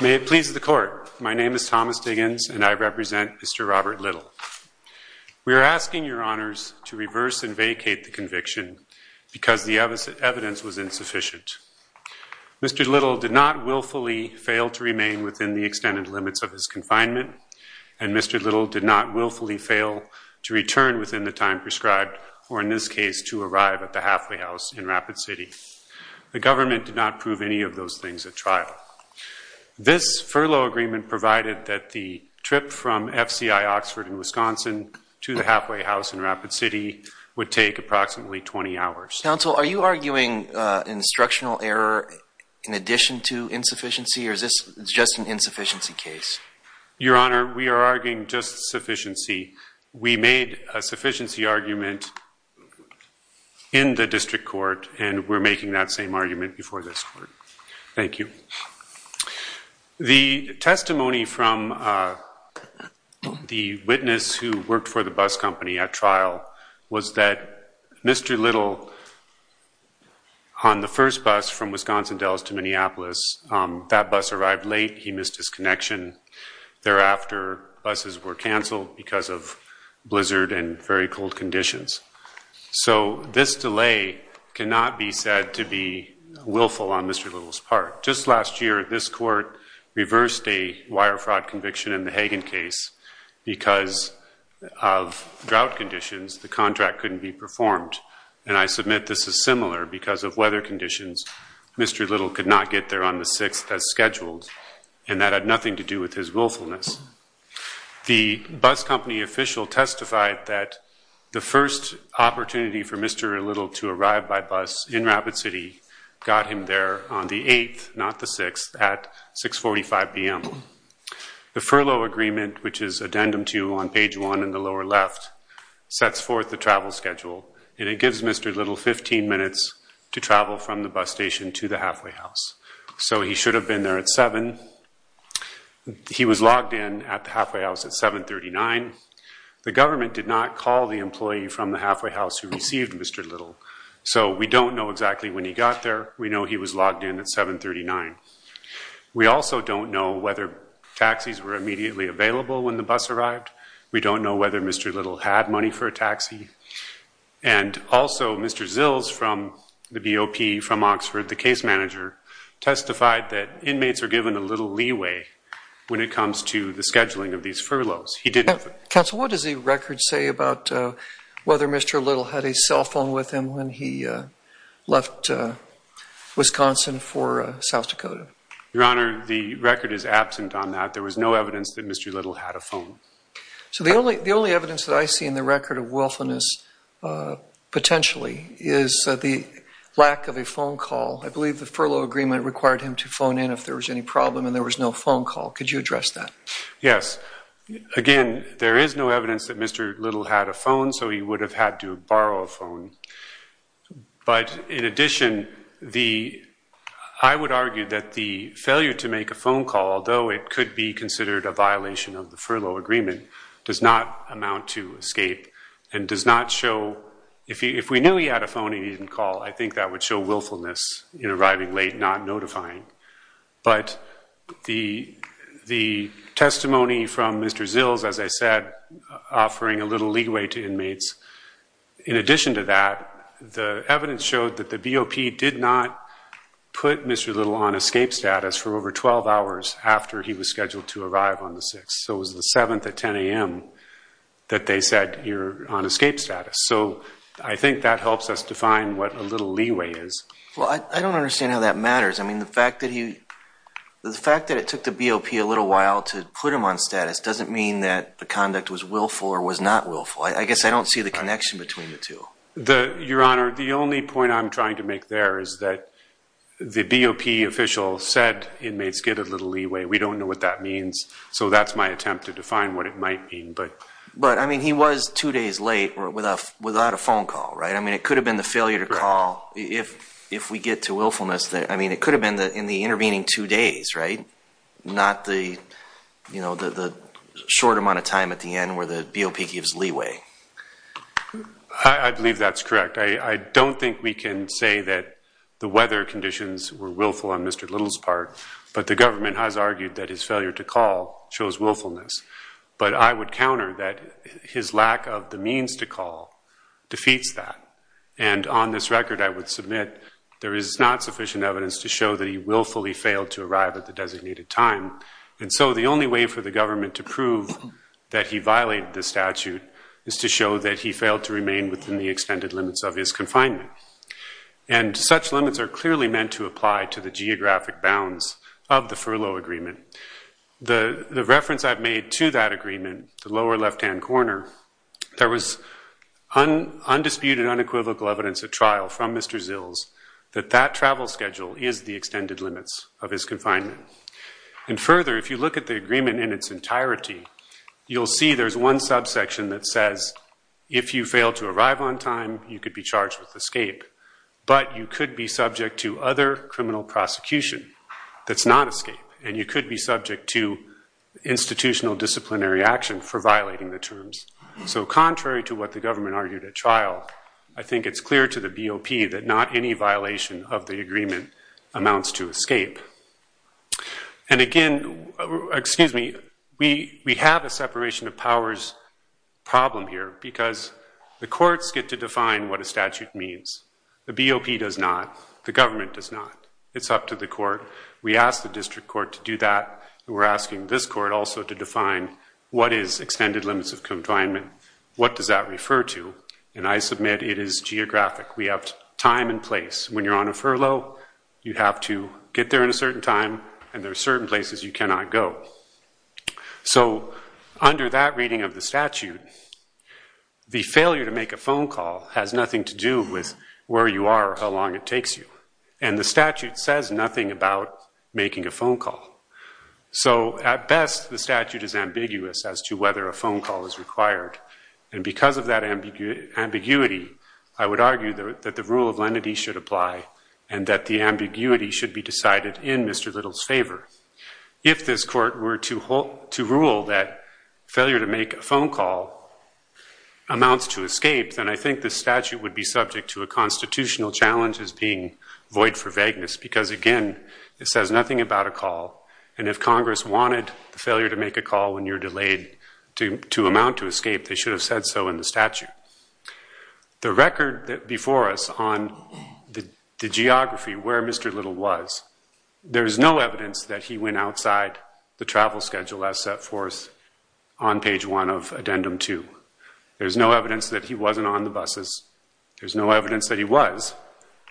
May it please the court, my name is Thomas Diggins and I represent Mr. Robert Little. We are asking your honors to reverse and vacate the conviction because the evidence was insufficient. Mr. Little did not willfully fail to remain within the extended limits of his confinement and Mr. Little did not willfully fail to return within the time prescribed or in this case to arrive at the halfway house in Rapid City. The government did not prove any of those things at trial. This furlough agreement provided that the trip from FCI Oxford in Wisconsin to the halfway house in Rapid City would take approximately 20 hours. Counsel, are you arguing instructional error in addition to insufficiency or is this just an insufficiency case? Your honor, we are arguing just sufficiency. We made a sufficiency argument in the district court and we're making that same argument before this court. Thank you. The testimony from the witness who worked for the bus company at trial was that Mr. Little on the first bus from Wisconsin Dells to Minneapolis, that bus arrived late, he arrived late because of blizzard and very cold conditions. So this delay cannot be said to be willful on Mr. Little's part. Just last year, this court reversed a wire fraud conviction in the Hagen case because of drought conditions, the contract couldn't be performed and I submit this is similar because of weather conditions, Mr. Little could not get there on the 6th as scheduled and that had nothing to do with his willfulness. The bus company official testified that the first opportunity for Mr. Little to arrive by bus in Rapid City got him there on the 8th, not the 6th, at 645 p.m. The furlough agreement, which is addendum two on page one in the lower left, sets forth the travel schedule and it gives Mr. Little 15 minutes to travel from the bus station to the halfway house. So he should have been there at 7. When he was logged in at the halfway house at 739, the government did not call the employee from the halfway house who received Mr. Little. So we don't know exactly when he got there. We know he was logged in at 739. We also don't know whether taxis were immediately available when the bus arrived. We don't know whether Mr. Little had money for a taxi. And also Mr. Zills from the BOP from Oxford, the case manager, testified that inmates are given little leeway when it comes to the scheduling of these furloughs. He did nothing. Counsel, what does the record say about whether Mr. Little had a cell phone with him when he left Wisconsin for South Dakota? Your Honor, the record is absent on that. There was no evidence that Mr. Little had a phone. So the only evidence that I see in the record of willfulness, potentially, is the lack of a phone call. I believe the furlough agreement required him to phone in if there was any problem and there was no phone call. Could you address that? Yes. Again, there is no evidence that Mr. Little had a phone, so he would have had to borrow a phone. But in addition, I would argue that the failure to make a phone call, although it could be considered a violation of the furlough agreement, does not amount to escape and does not show If we knew he had a phone and he didn't call, I think that would show willfulness in arriving late, not notifying. But the testimony from Mr. Zills, as I said, offering a little leeway to inmates, in addition to that, the evidence showed that the BOP did not put Mr. Little on escape status for over 12 hours after he was scheduled to arrive on the 6th. So it was the 7th at 10 a.m. that they said, you're on escape status. I think that helps us define what a little leeway is. Well, I don't understand how that matters. The fact that it took the BOP a little while to put him on status doesn't mean that the conduct was willful or was not willful. I guess I don't see the connection between the two. Your Honor, the only point I'm trying to make there is that the BOP official said inmates get a little leeway. We don't know what that means, so that's my attempt to define what it might mean. But I mean, he was two days late without a phone call, right? I mean, it could have been the failure to call. If we get to willfulness, I mean, it could have been in the intervening two days, right? Not the short amount of time at the end where the BOP gives leeway. I believe that's correct. I don't think we can say that the weather conditions were willful on Mr. Little's part, but the government has argued that his failure to call shows willfulness. But I would counter that his lack of the means to call defeats that. And on this record, I would submit there is not sufficient evidence to show that he willfully failed to arrive at the designated time. And so the only way for the government to prove that he violated the statute is to show that he failed to remain within the extended limits of his confinement. And such limits are clearly meant to apply to the geographic bounds of the furlough agreement. The reference I've made to that agreement, the lower left-hand corner, there was undisputed, unequivocal evidence at trial from Mr. Zills that that travel schedule is the extended limits of his confinement. And further, if you look at the agreement in its entirety, you'll see there's one subsection that says, if you fail to arrive on time, you could be charged with escape. But you could be subject to other criminal prosecution that's not escape. And you could be subject to institutional disciplinary action for violating the terms. So contrary to what the government argued at trial, I think it's clear to the BOP that not any violation of the agreement amounts to escape. And again, excuse me, we have a separation of powers problem here because the courts get to define what a statute means. The BOP does not. The government does not. It's up to the court. We ask the district court to do that. We're asking this court also to define what is extended limits of confinement. What does that refer to? And I submit it is geographic. We have time and place. When you're on a furlough, you have to get there in a certain time. And there are certain places you cannot go. So under that reading of the statute, the failure to make a phone call has nothing to do with where you are or how long it takes you. And the statute says nothing about making a phone call. So at best, the statute is ambiguous as to whether a phone call is required. And because of that ambiguity, I would argue that the rule of lenity should apply and that the ambiguity should be decided in Mr. Little's favor. If this court were to rule that failure to make a phone call amounts to escape, then I think the statute would be subject to a constitutional challenge as being void for vagueness. Because again, it says nothing about a call. And if Congress wanted the failure to make a call when you're delayed to amount to escape, they should have said so in the statute. The record before us on the geography, where Mr. Little was, there is no evidence that he went outside the travel schedule as set forth on page one of addendum two. There's no evidence that he wasn't on the buses. There's no evidence that he was.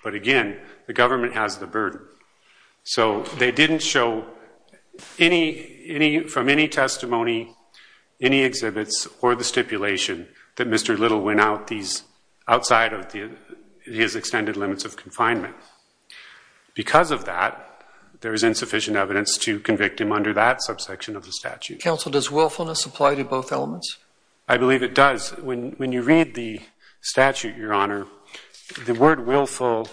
But again, the government has the burden. So they didn't show from any testimony, any exhibits, or the stipulation that Mr. Little went outside of his extended limits of confinement. Because of that, there is insufficient evidence to convict him under that subsection of the statute. Counsel, does willfulness apply to both elements? I believe it does. When you read the statute, Your Honor, the word willful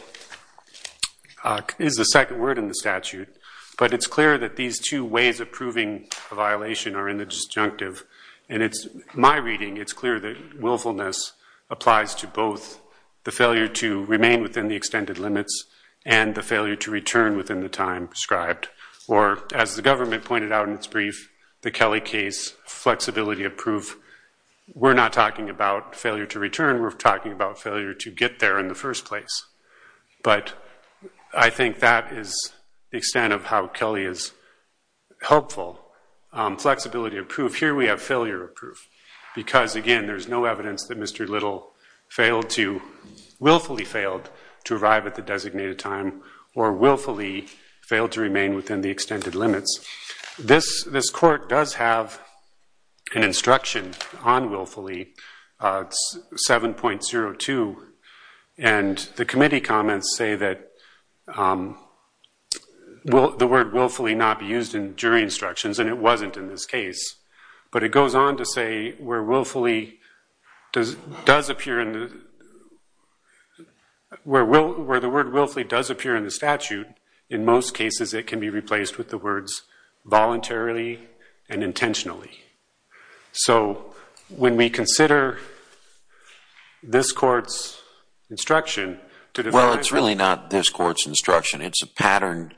is the second word in the statute. But it's clear that these two ways of proving a violation are in the disjunctive. And in my reading, it's clear that willfulness applies to both the failure to remain within the extended limits and the failure to return within the time prescribed. Or as the government pointed out in its brief, the Kelly case, flexibility of proof. We're not talking about failure to return. We're talking about failure to get there in the first place. But I think that is the extent of how Kelly is helpful. Flexibility of proof. Here we have failure of proof. Because again, there's no evidence that Mr. Little willfully failed to arrive at the designated time or willfully failed to remain within the extended limits. This court does have an instruction on willfully. It's 7.02. And the committee comments say that the word willfully not be used in jury instructions. And it wasn't in this case. But it goes on to say where the word willfully does appear in the statute, in most cases it can be replaced with the words voluntarily and intentionally. So when we consider this court's instruction to divide. Well, it's really not this court's instruction. It's a patterned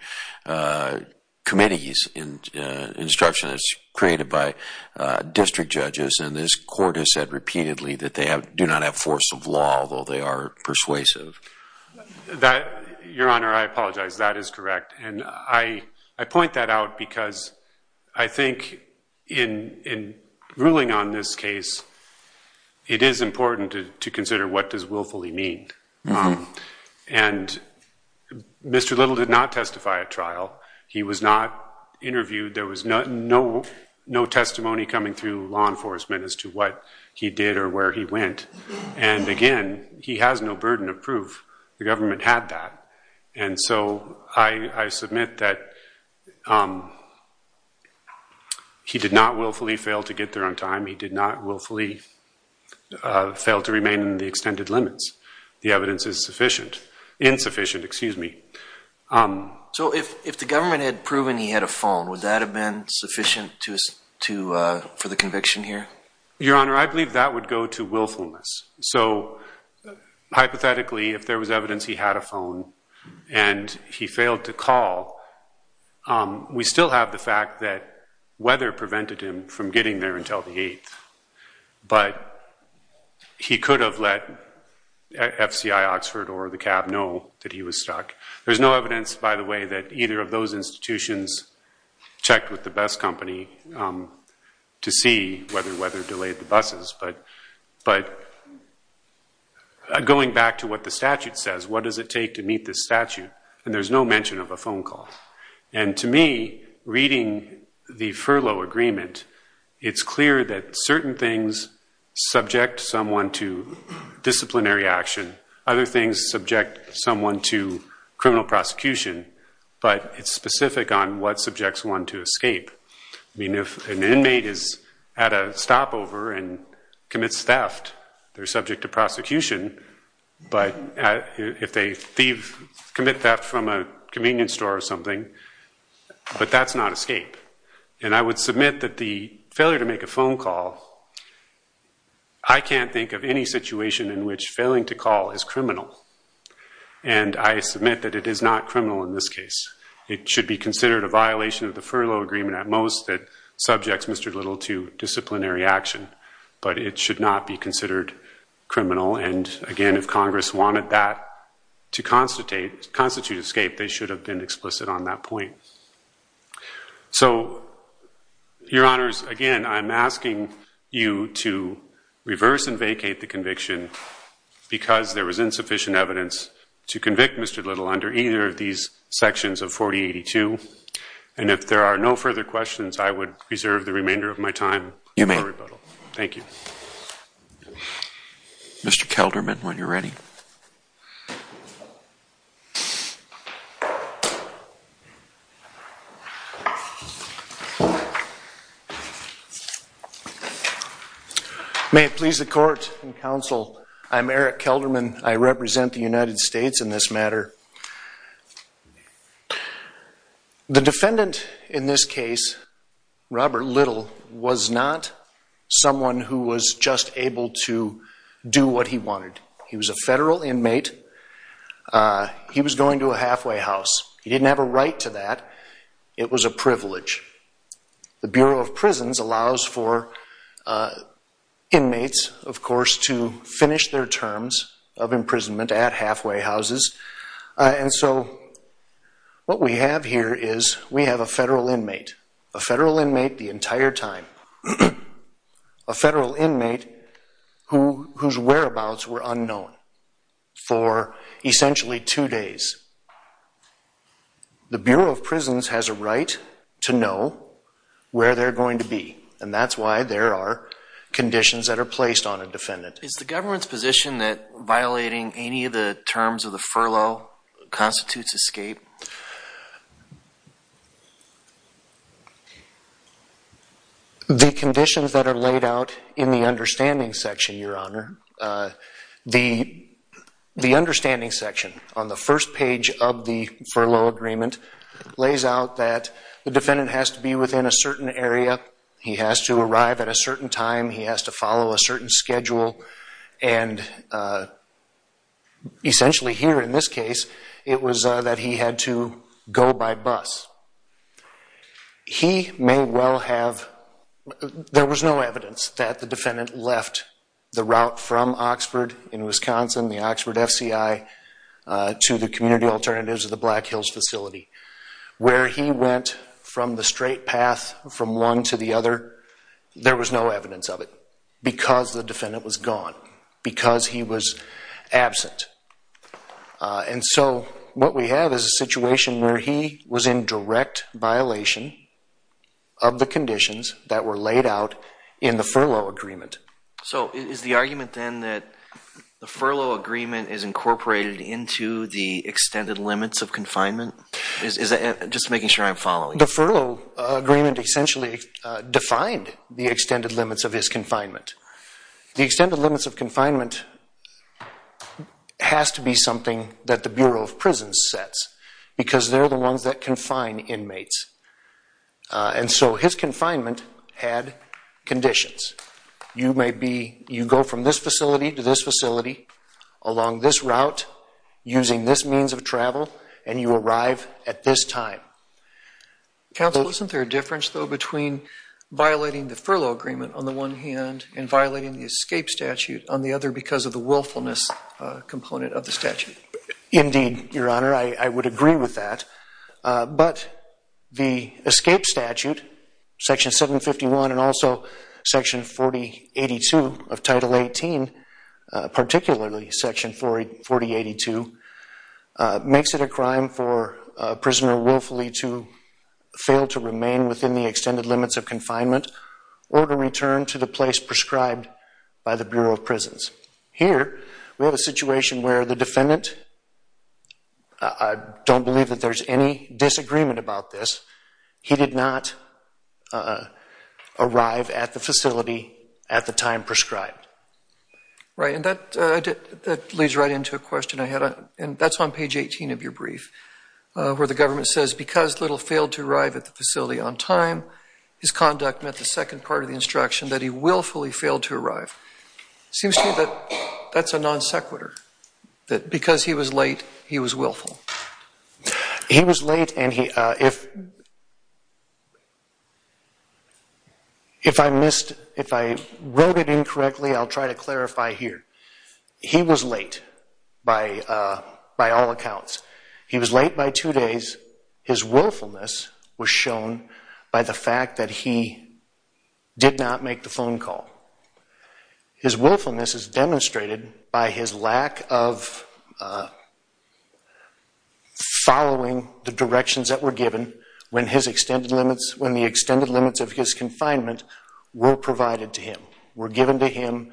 committee's instruction that's created by district judges. And this court has said repeatedly that they do not have force of law, although they are persuasive. Your Honor, I apologize. That is correct. And I point that out because I think in ruling on this case, it is important to consider what does willfully mean. And Mr. Little did not testify at trial. He was not interviewed. There was no testimony coming through law enforcement as to what he did or where he went. And again, he has no burden of proof. The government had that. And so I submit that he did not willfully fail to get there on time. He did not willfully fail to remain in the extended limits. The evidence is insufficient. So if the government had proven he had a phone, would that have been sufficient for the conviction here? Your Honor, I believe that would go to willfulness. So hypothetically, if there was evidence he had a phone and he failed to call, we still have the fact that weather prevented him from getting there until the 8th. But he could have let FCI Oxford or the cab know that he was stuck. There's no evidence, by the way, that either of those to see whether weather delayed the buses. But going back to what the statute says, what does it take to meet this statute? And there's no mention of a phone call. And to me, reading the furlough agreement, it's clear that certain things subject someone to disciplinary action. Other things subject someone to criminal prosecution. But it's specific on what subjects want to escape. I mean, if an inmate is at a stopover and commits theft, they're subject to prosecution. But if they commit theft from a convenience store or something, but that's not escape. And I would submit that the failure to make a phone call, I can't think of any situation in which failing to call is criminal. And I submit that it is not criminal in this case. It should be considered a violation of the furlough agreement at most that subjects Mr. Little to disciplinary action. But it should not be considered criminal. And again, if Congress wanted that to constitute escape, they should have been explicit on that point. So Your Honors, again, I'm asking you to reverse and vacate the conviction because there was insufficient evidence to convict Mr. Little under either of these sections of 4082. And if there are no further questions, I would reserve the remainder of my time for rebuttal. Thank you. Mr. Kelderman, when you're ready. May it please the court and counsel, I'm Eric Kelderman. I represent the United States in this matter. The defendant in this case, Robert Little, was not someone who was just able to do what he wanted. He was a federal inmate. He was going to a halfway house. He didn't have a right to that. It was a privilege. The Bureau of Prisons allows for inmates, of course, to finish their terms of imprisonment at halfway houses. And so what we have here is we have a federal inmate, a federal inmate the entire time, a federal inmate whose whereabouts were unknown for essentially two days. The Bureau of Prisons has a right to know where they're going to be. And that's why there are conditions that are placed on a defendant. Is the government's position that any of the terms of the furlough constitutes escape? The conditions that are laid out in the understanding section, Your Honor, the understanding section on the first page of the furlough agreement lays out that the defendant has to be within a certain area. He has to arrive at a certain time. He has to follow a certain schedule. And essentially here in this case, it was that he had to go by bus. He may well have, there was no evidence that the defendant left the route from Oxford in Wisconsin, the Oxford FCI, to the community alternatives of the Black Hills facility. Where he went from the straight path from one to the other, there was no evidence of it because the defendant was gone, because he was absent. And so what we have is a situation where he was in direct violation of the conditions that were laid out in the furlough agreement. So is the argument then that the furlough agreement is incorporated into the extended limits of confinement? Is that just making sure I'm following? The furlough agreement essentially defined the extended limits of his confinement. The extended limits of confinement has to be something that the Bureau of Prisons sets because they're the ones that confine inmates. And so his confinement had conditions. You may be, you go from this facility to this facility along this route using this means of travel, and you arrive at this time. Counsel, isn't there a difference, though, between violating the furlough agreement on the one hand and violating the escape statute on the other because of the willfulness component of the statute? Indeed, Your Honor. I would agree with that. But the escape statute, Section 751, and also Section 4082 of Title 18, particularly Section 4082, makes it a crime for a prisoner willfully to fail to remain within the extended limits of confinement or to return to the place prescribed by the Bureau of Prisons. Here, we have a situation where the defendant, I don't believe that there's any disagreement about this, he did not arrive at the facility at the time prescribed. Right, and that leads right into a question I had. And that's on page 18 of your brief, where the government says, because Little failed to arrive at the facility on time, his conduct met the second part of the instruction that he willfully failed to arrive. Seems to me that that's a non sequitur, that because he was late, he was willful. He was late, and if I wrote it incorrectly, I'll try to clarify here. He was late by all accounts. He was late by two days. His willfulness was shown by the fact that he did not make the phone call. His willfulness is demonstrated by his lack of following the directions that were given when the extended limits of his confinement were provided to him, were given to him,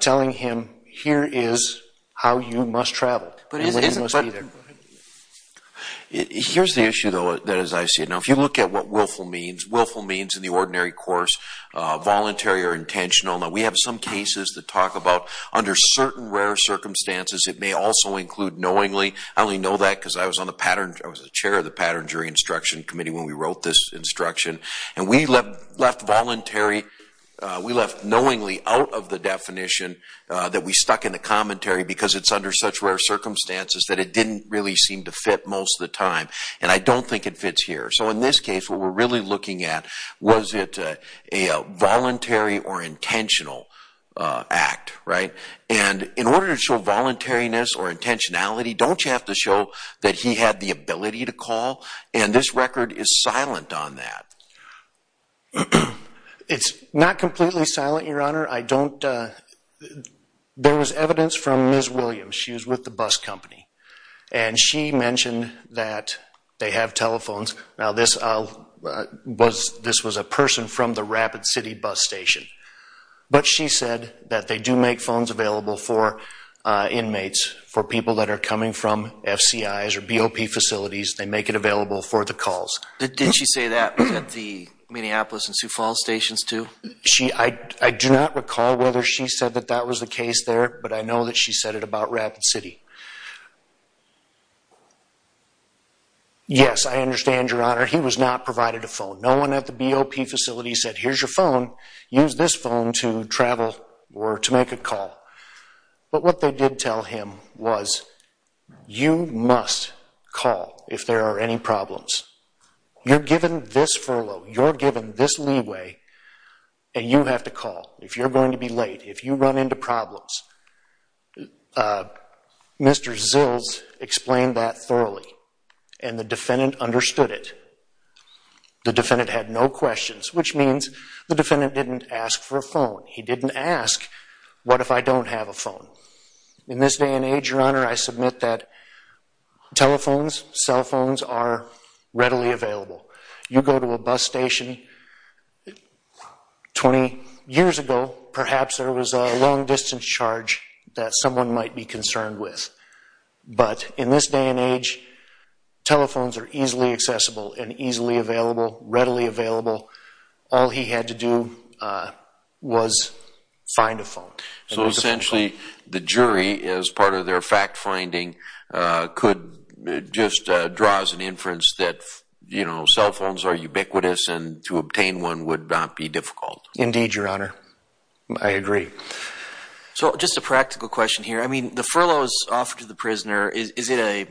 telling him, here is how you must travel. But here's the issue, though, that as I see it. Now, if you look at what willful means, willful means in the ordinary course, voluntary or intentional. Now, we have some cases that talk about under certain rare circumstances, it may also include knowingly. I only know that because I was on the pattern, I was the chair of the Pattern Jury Instruction Committee when we wrote this instruction. And we left voluntary, we left knowingly out of the definition that we stuck in the commentary because it's under such rare circumstances that it didn't really seem to fit most of the time. And I don't think it fits here. So in this case, what we're really looking at was it a voluntary or intentional act, right? And in order to show voluntariness or intentionality, don't you have to show that he had the ability to call? And this record is silent on that. It's not completely silent, Your Honor. I don't, there was evidence from Ms. Williams. She was with the bus company. And she mentioned that they have telephones. Now, this was a person from the Rapid City bus station. But she said that they do make phones available for inmates, for people that are coming from FCIs or BOP facilities. They make it available for the calls. Did she say that at the Minneapolis and Sioux Falls stations too? I do not recall whether she said that that was the case there. But I know that she said it about Rapid City. Yes, I understand, Your Honor. He was not provided a phone. No one at the BOP facility said, here's your phone. Use this phone to travel or to make a call. But what they did tell him was, you must call if there are any problems. You're given this furlough. You're given this leeway. And you have to call if you're going to be late, if you run into problems. Mr. Zills explained that thoroughly. And the defendant understood it. The defendant had no questions, which means the defendant didn't ask for a phone. He didn't ask, what if I don't have a phone? In this day and age, Your Honor, I submit that telephones, cell phones are readily available. You go to a bus station 20 years ago, perhaps there was a long distance charge that someone might be concerned with. But in this day and age, telephones are easily accessible and easily available, readily available. All he had to do was find a phone. So essentially, the jury, as part of their fact finding, could just draw as an inference that cell phones are ubiquitous and to obtain one would not be difficult. Indeed, Your Honor. I agree. So just a practical question here. I mean, the furloughs offered to the prisoner, is it a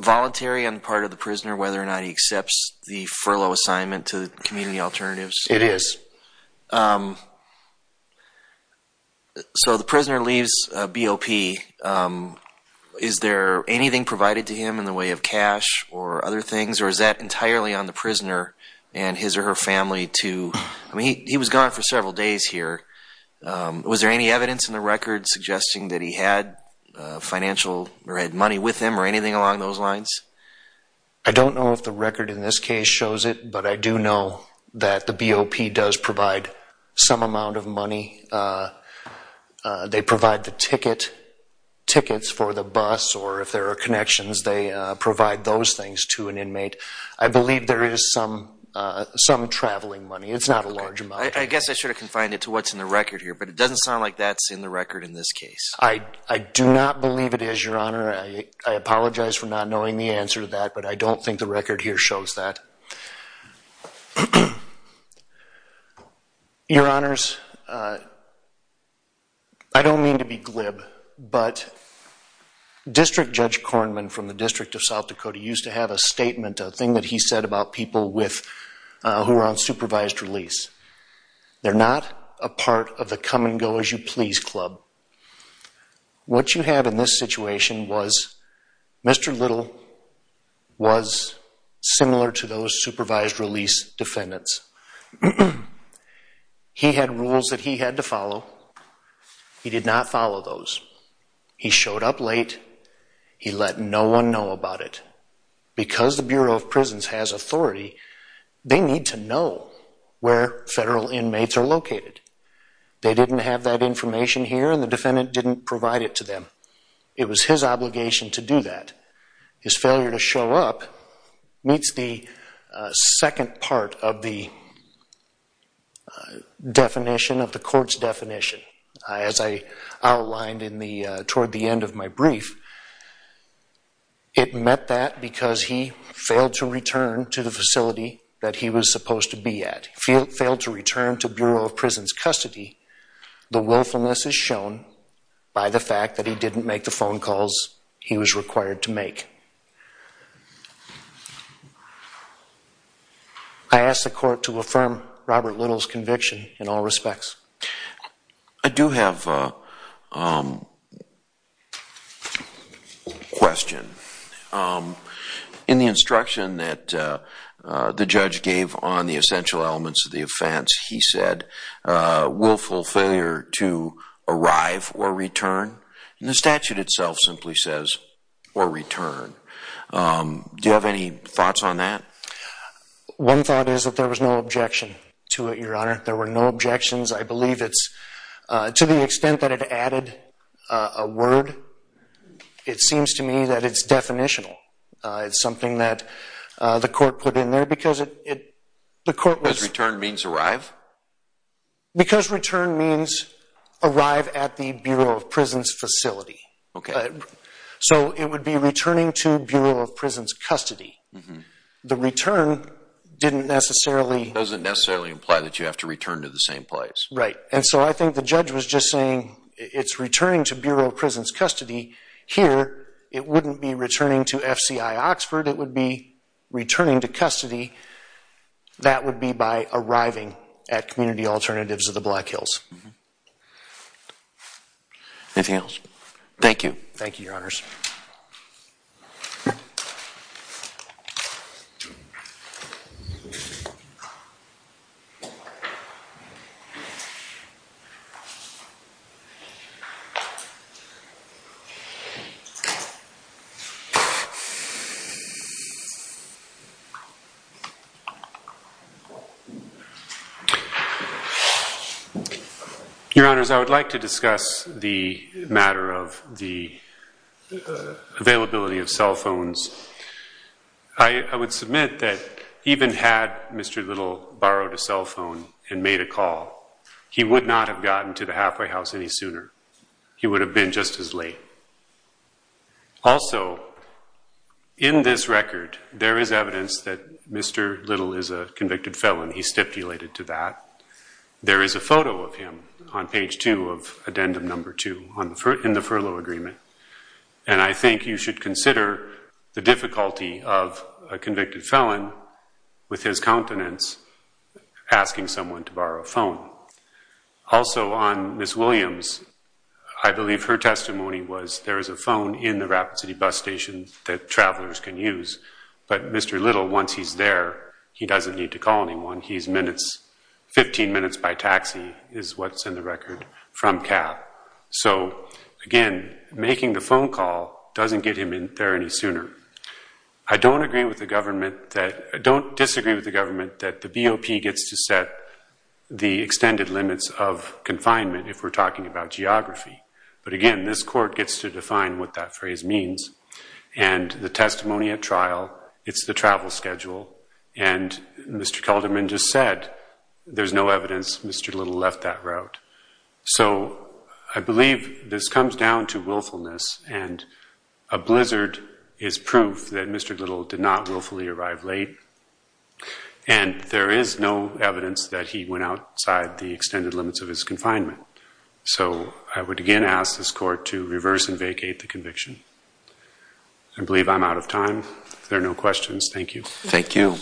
voluntary on the part of the prisoner whether or not he accepts the furlough assignment to Community Alternatives? It is. So the prisoner leaves BOP. Is there anything provided to him in the way of cash or other things? Or is that entirely on the prisoner and his or her family to, I mean, he was gone for several days here. Was there any evidence in the record suggesting that he had financial or had money with him or anything along those lines? I don't know if the record in this case shows it. But I do know that the BOP does provide some amount of money. They provide the tickets for the bus. Or if there are connections, they provide those things to an inmate. I believe there is some traveling money. It's not a large amount. I guess I should have confined it to what's in the record here. But it doesn't sound like that's in the record in this case. I do not believe it is, Your Honor. I apologize for not knowing the answer to that. But I don't think the record here shows that. Your Honors, I don't mean to be glib. But District Judge Kornman from the District of South Dakota used to have a statement, a thing that he said about people who are on supervised release. They're not a part of the come and go as you please club. What you have in this situation was Mr. Little was similar to those supervised release defendants. He had rules that he had to follow. He did not follow those. He showed up late. He let no one know about it. Because the Bureau of Prisons has authority, they need to know where federal inmates are located. They didn't have that information here, and the defendant didn't provide it to them. It was his obligation to do that. His failure to show up meets the second part of the definition of the court's definition. As I outlined toward the end of my brief, it meant that because he failed to return to the facility that he was supposed to be at, failed to return to Bureau of Prisons custody, the willfulness is shown by the fact that he didn't make the phone calls he was required to make. I ask the court to affirm Robert Little's I do have a question. In the instruction that the judge gave on the essential elements of the offense, he said willful failure to arrive or return. And the statute itself simply says, or return. Do you have any thoughts on that? One thought is that there was no objection to it, Your Honor. There were no objections. I believe it's, to the extent that it added a word, it seems to me that it's definitional. It's something that the court put in there, because the court was. Because return means arrive? Because return means arrive at the Bureau of Prisons facility. So it would be returning to Bureau of Prisons custody. The return didn't necessarily. Doesn't necessarily imply that you have to return to the same place. Right. And so I think the judge was just saying, it's returning to Bureau of Prisons custody. Here, it wouldn't be returning to FCI Oxford. It would be returning to custody. That would be by arriving at Community Alternatives of the Black Hills. Anything else? Thank you. Thank you, Your Honors. Thank you. Your Honors, I would like to discuss the matter of the availability of cell phones. I would submit that even had Mr. Little borrowed a cell phone and made a call, he would not have gotten to the halfway house any sooner. He would have been just as late. Also, in this record, there is evidence that Mr. Little is a convicted felon. He stipulated to that. There is a photo of him on page 2 of addendum number 2 And I think you should consider the difficulty of a convicted felon, with his countenance, asking someone to borrow a phone. Also, on Ms. Williams, I believe her testimony was there is a phone in the Rapid City bus station that travelers can use. But Mr. Little, once he's there, he doesn't need to call anyone. He's minutes, 15 minutes by taxi, is what's in the record from CAP. So again, making the phone call doesn't get him there any sooner. I don't disagree with the government that the BOP gets to set the extended limits of confinement if we're talking about geography. But again, this court gets to define what that phrase means. And the testimony at trial, it's the travel schedule. And Mr. Kalderman just said, there's no evidence Mr. Little left that route. So I believe this comes down to willfulness. And a blizzard is proof that Mr. Little did not willfully arrive late. And there is no evidence that he went outside the extended limits of his confinement. So I would again ask this court to reverse and vacate the conviction. I believe I'm out of time. There are no questions. Thank you. Thank you.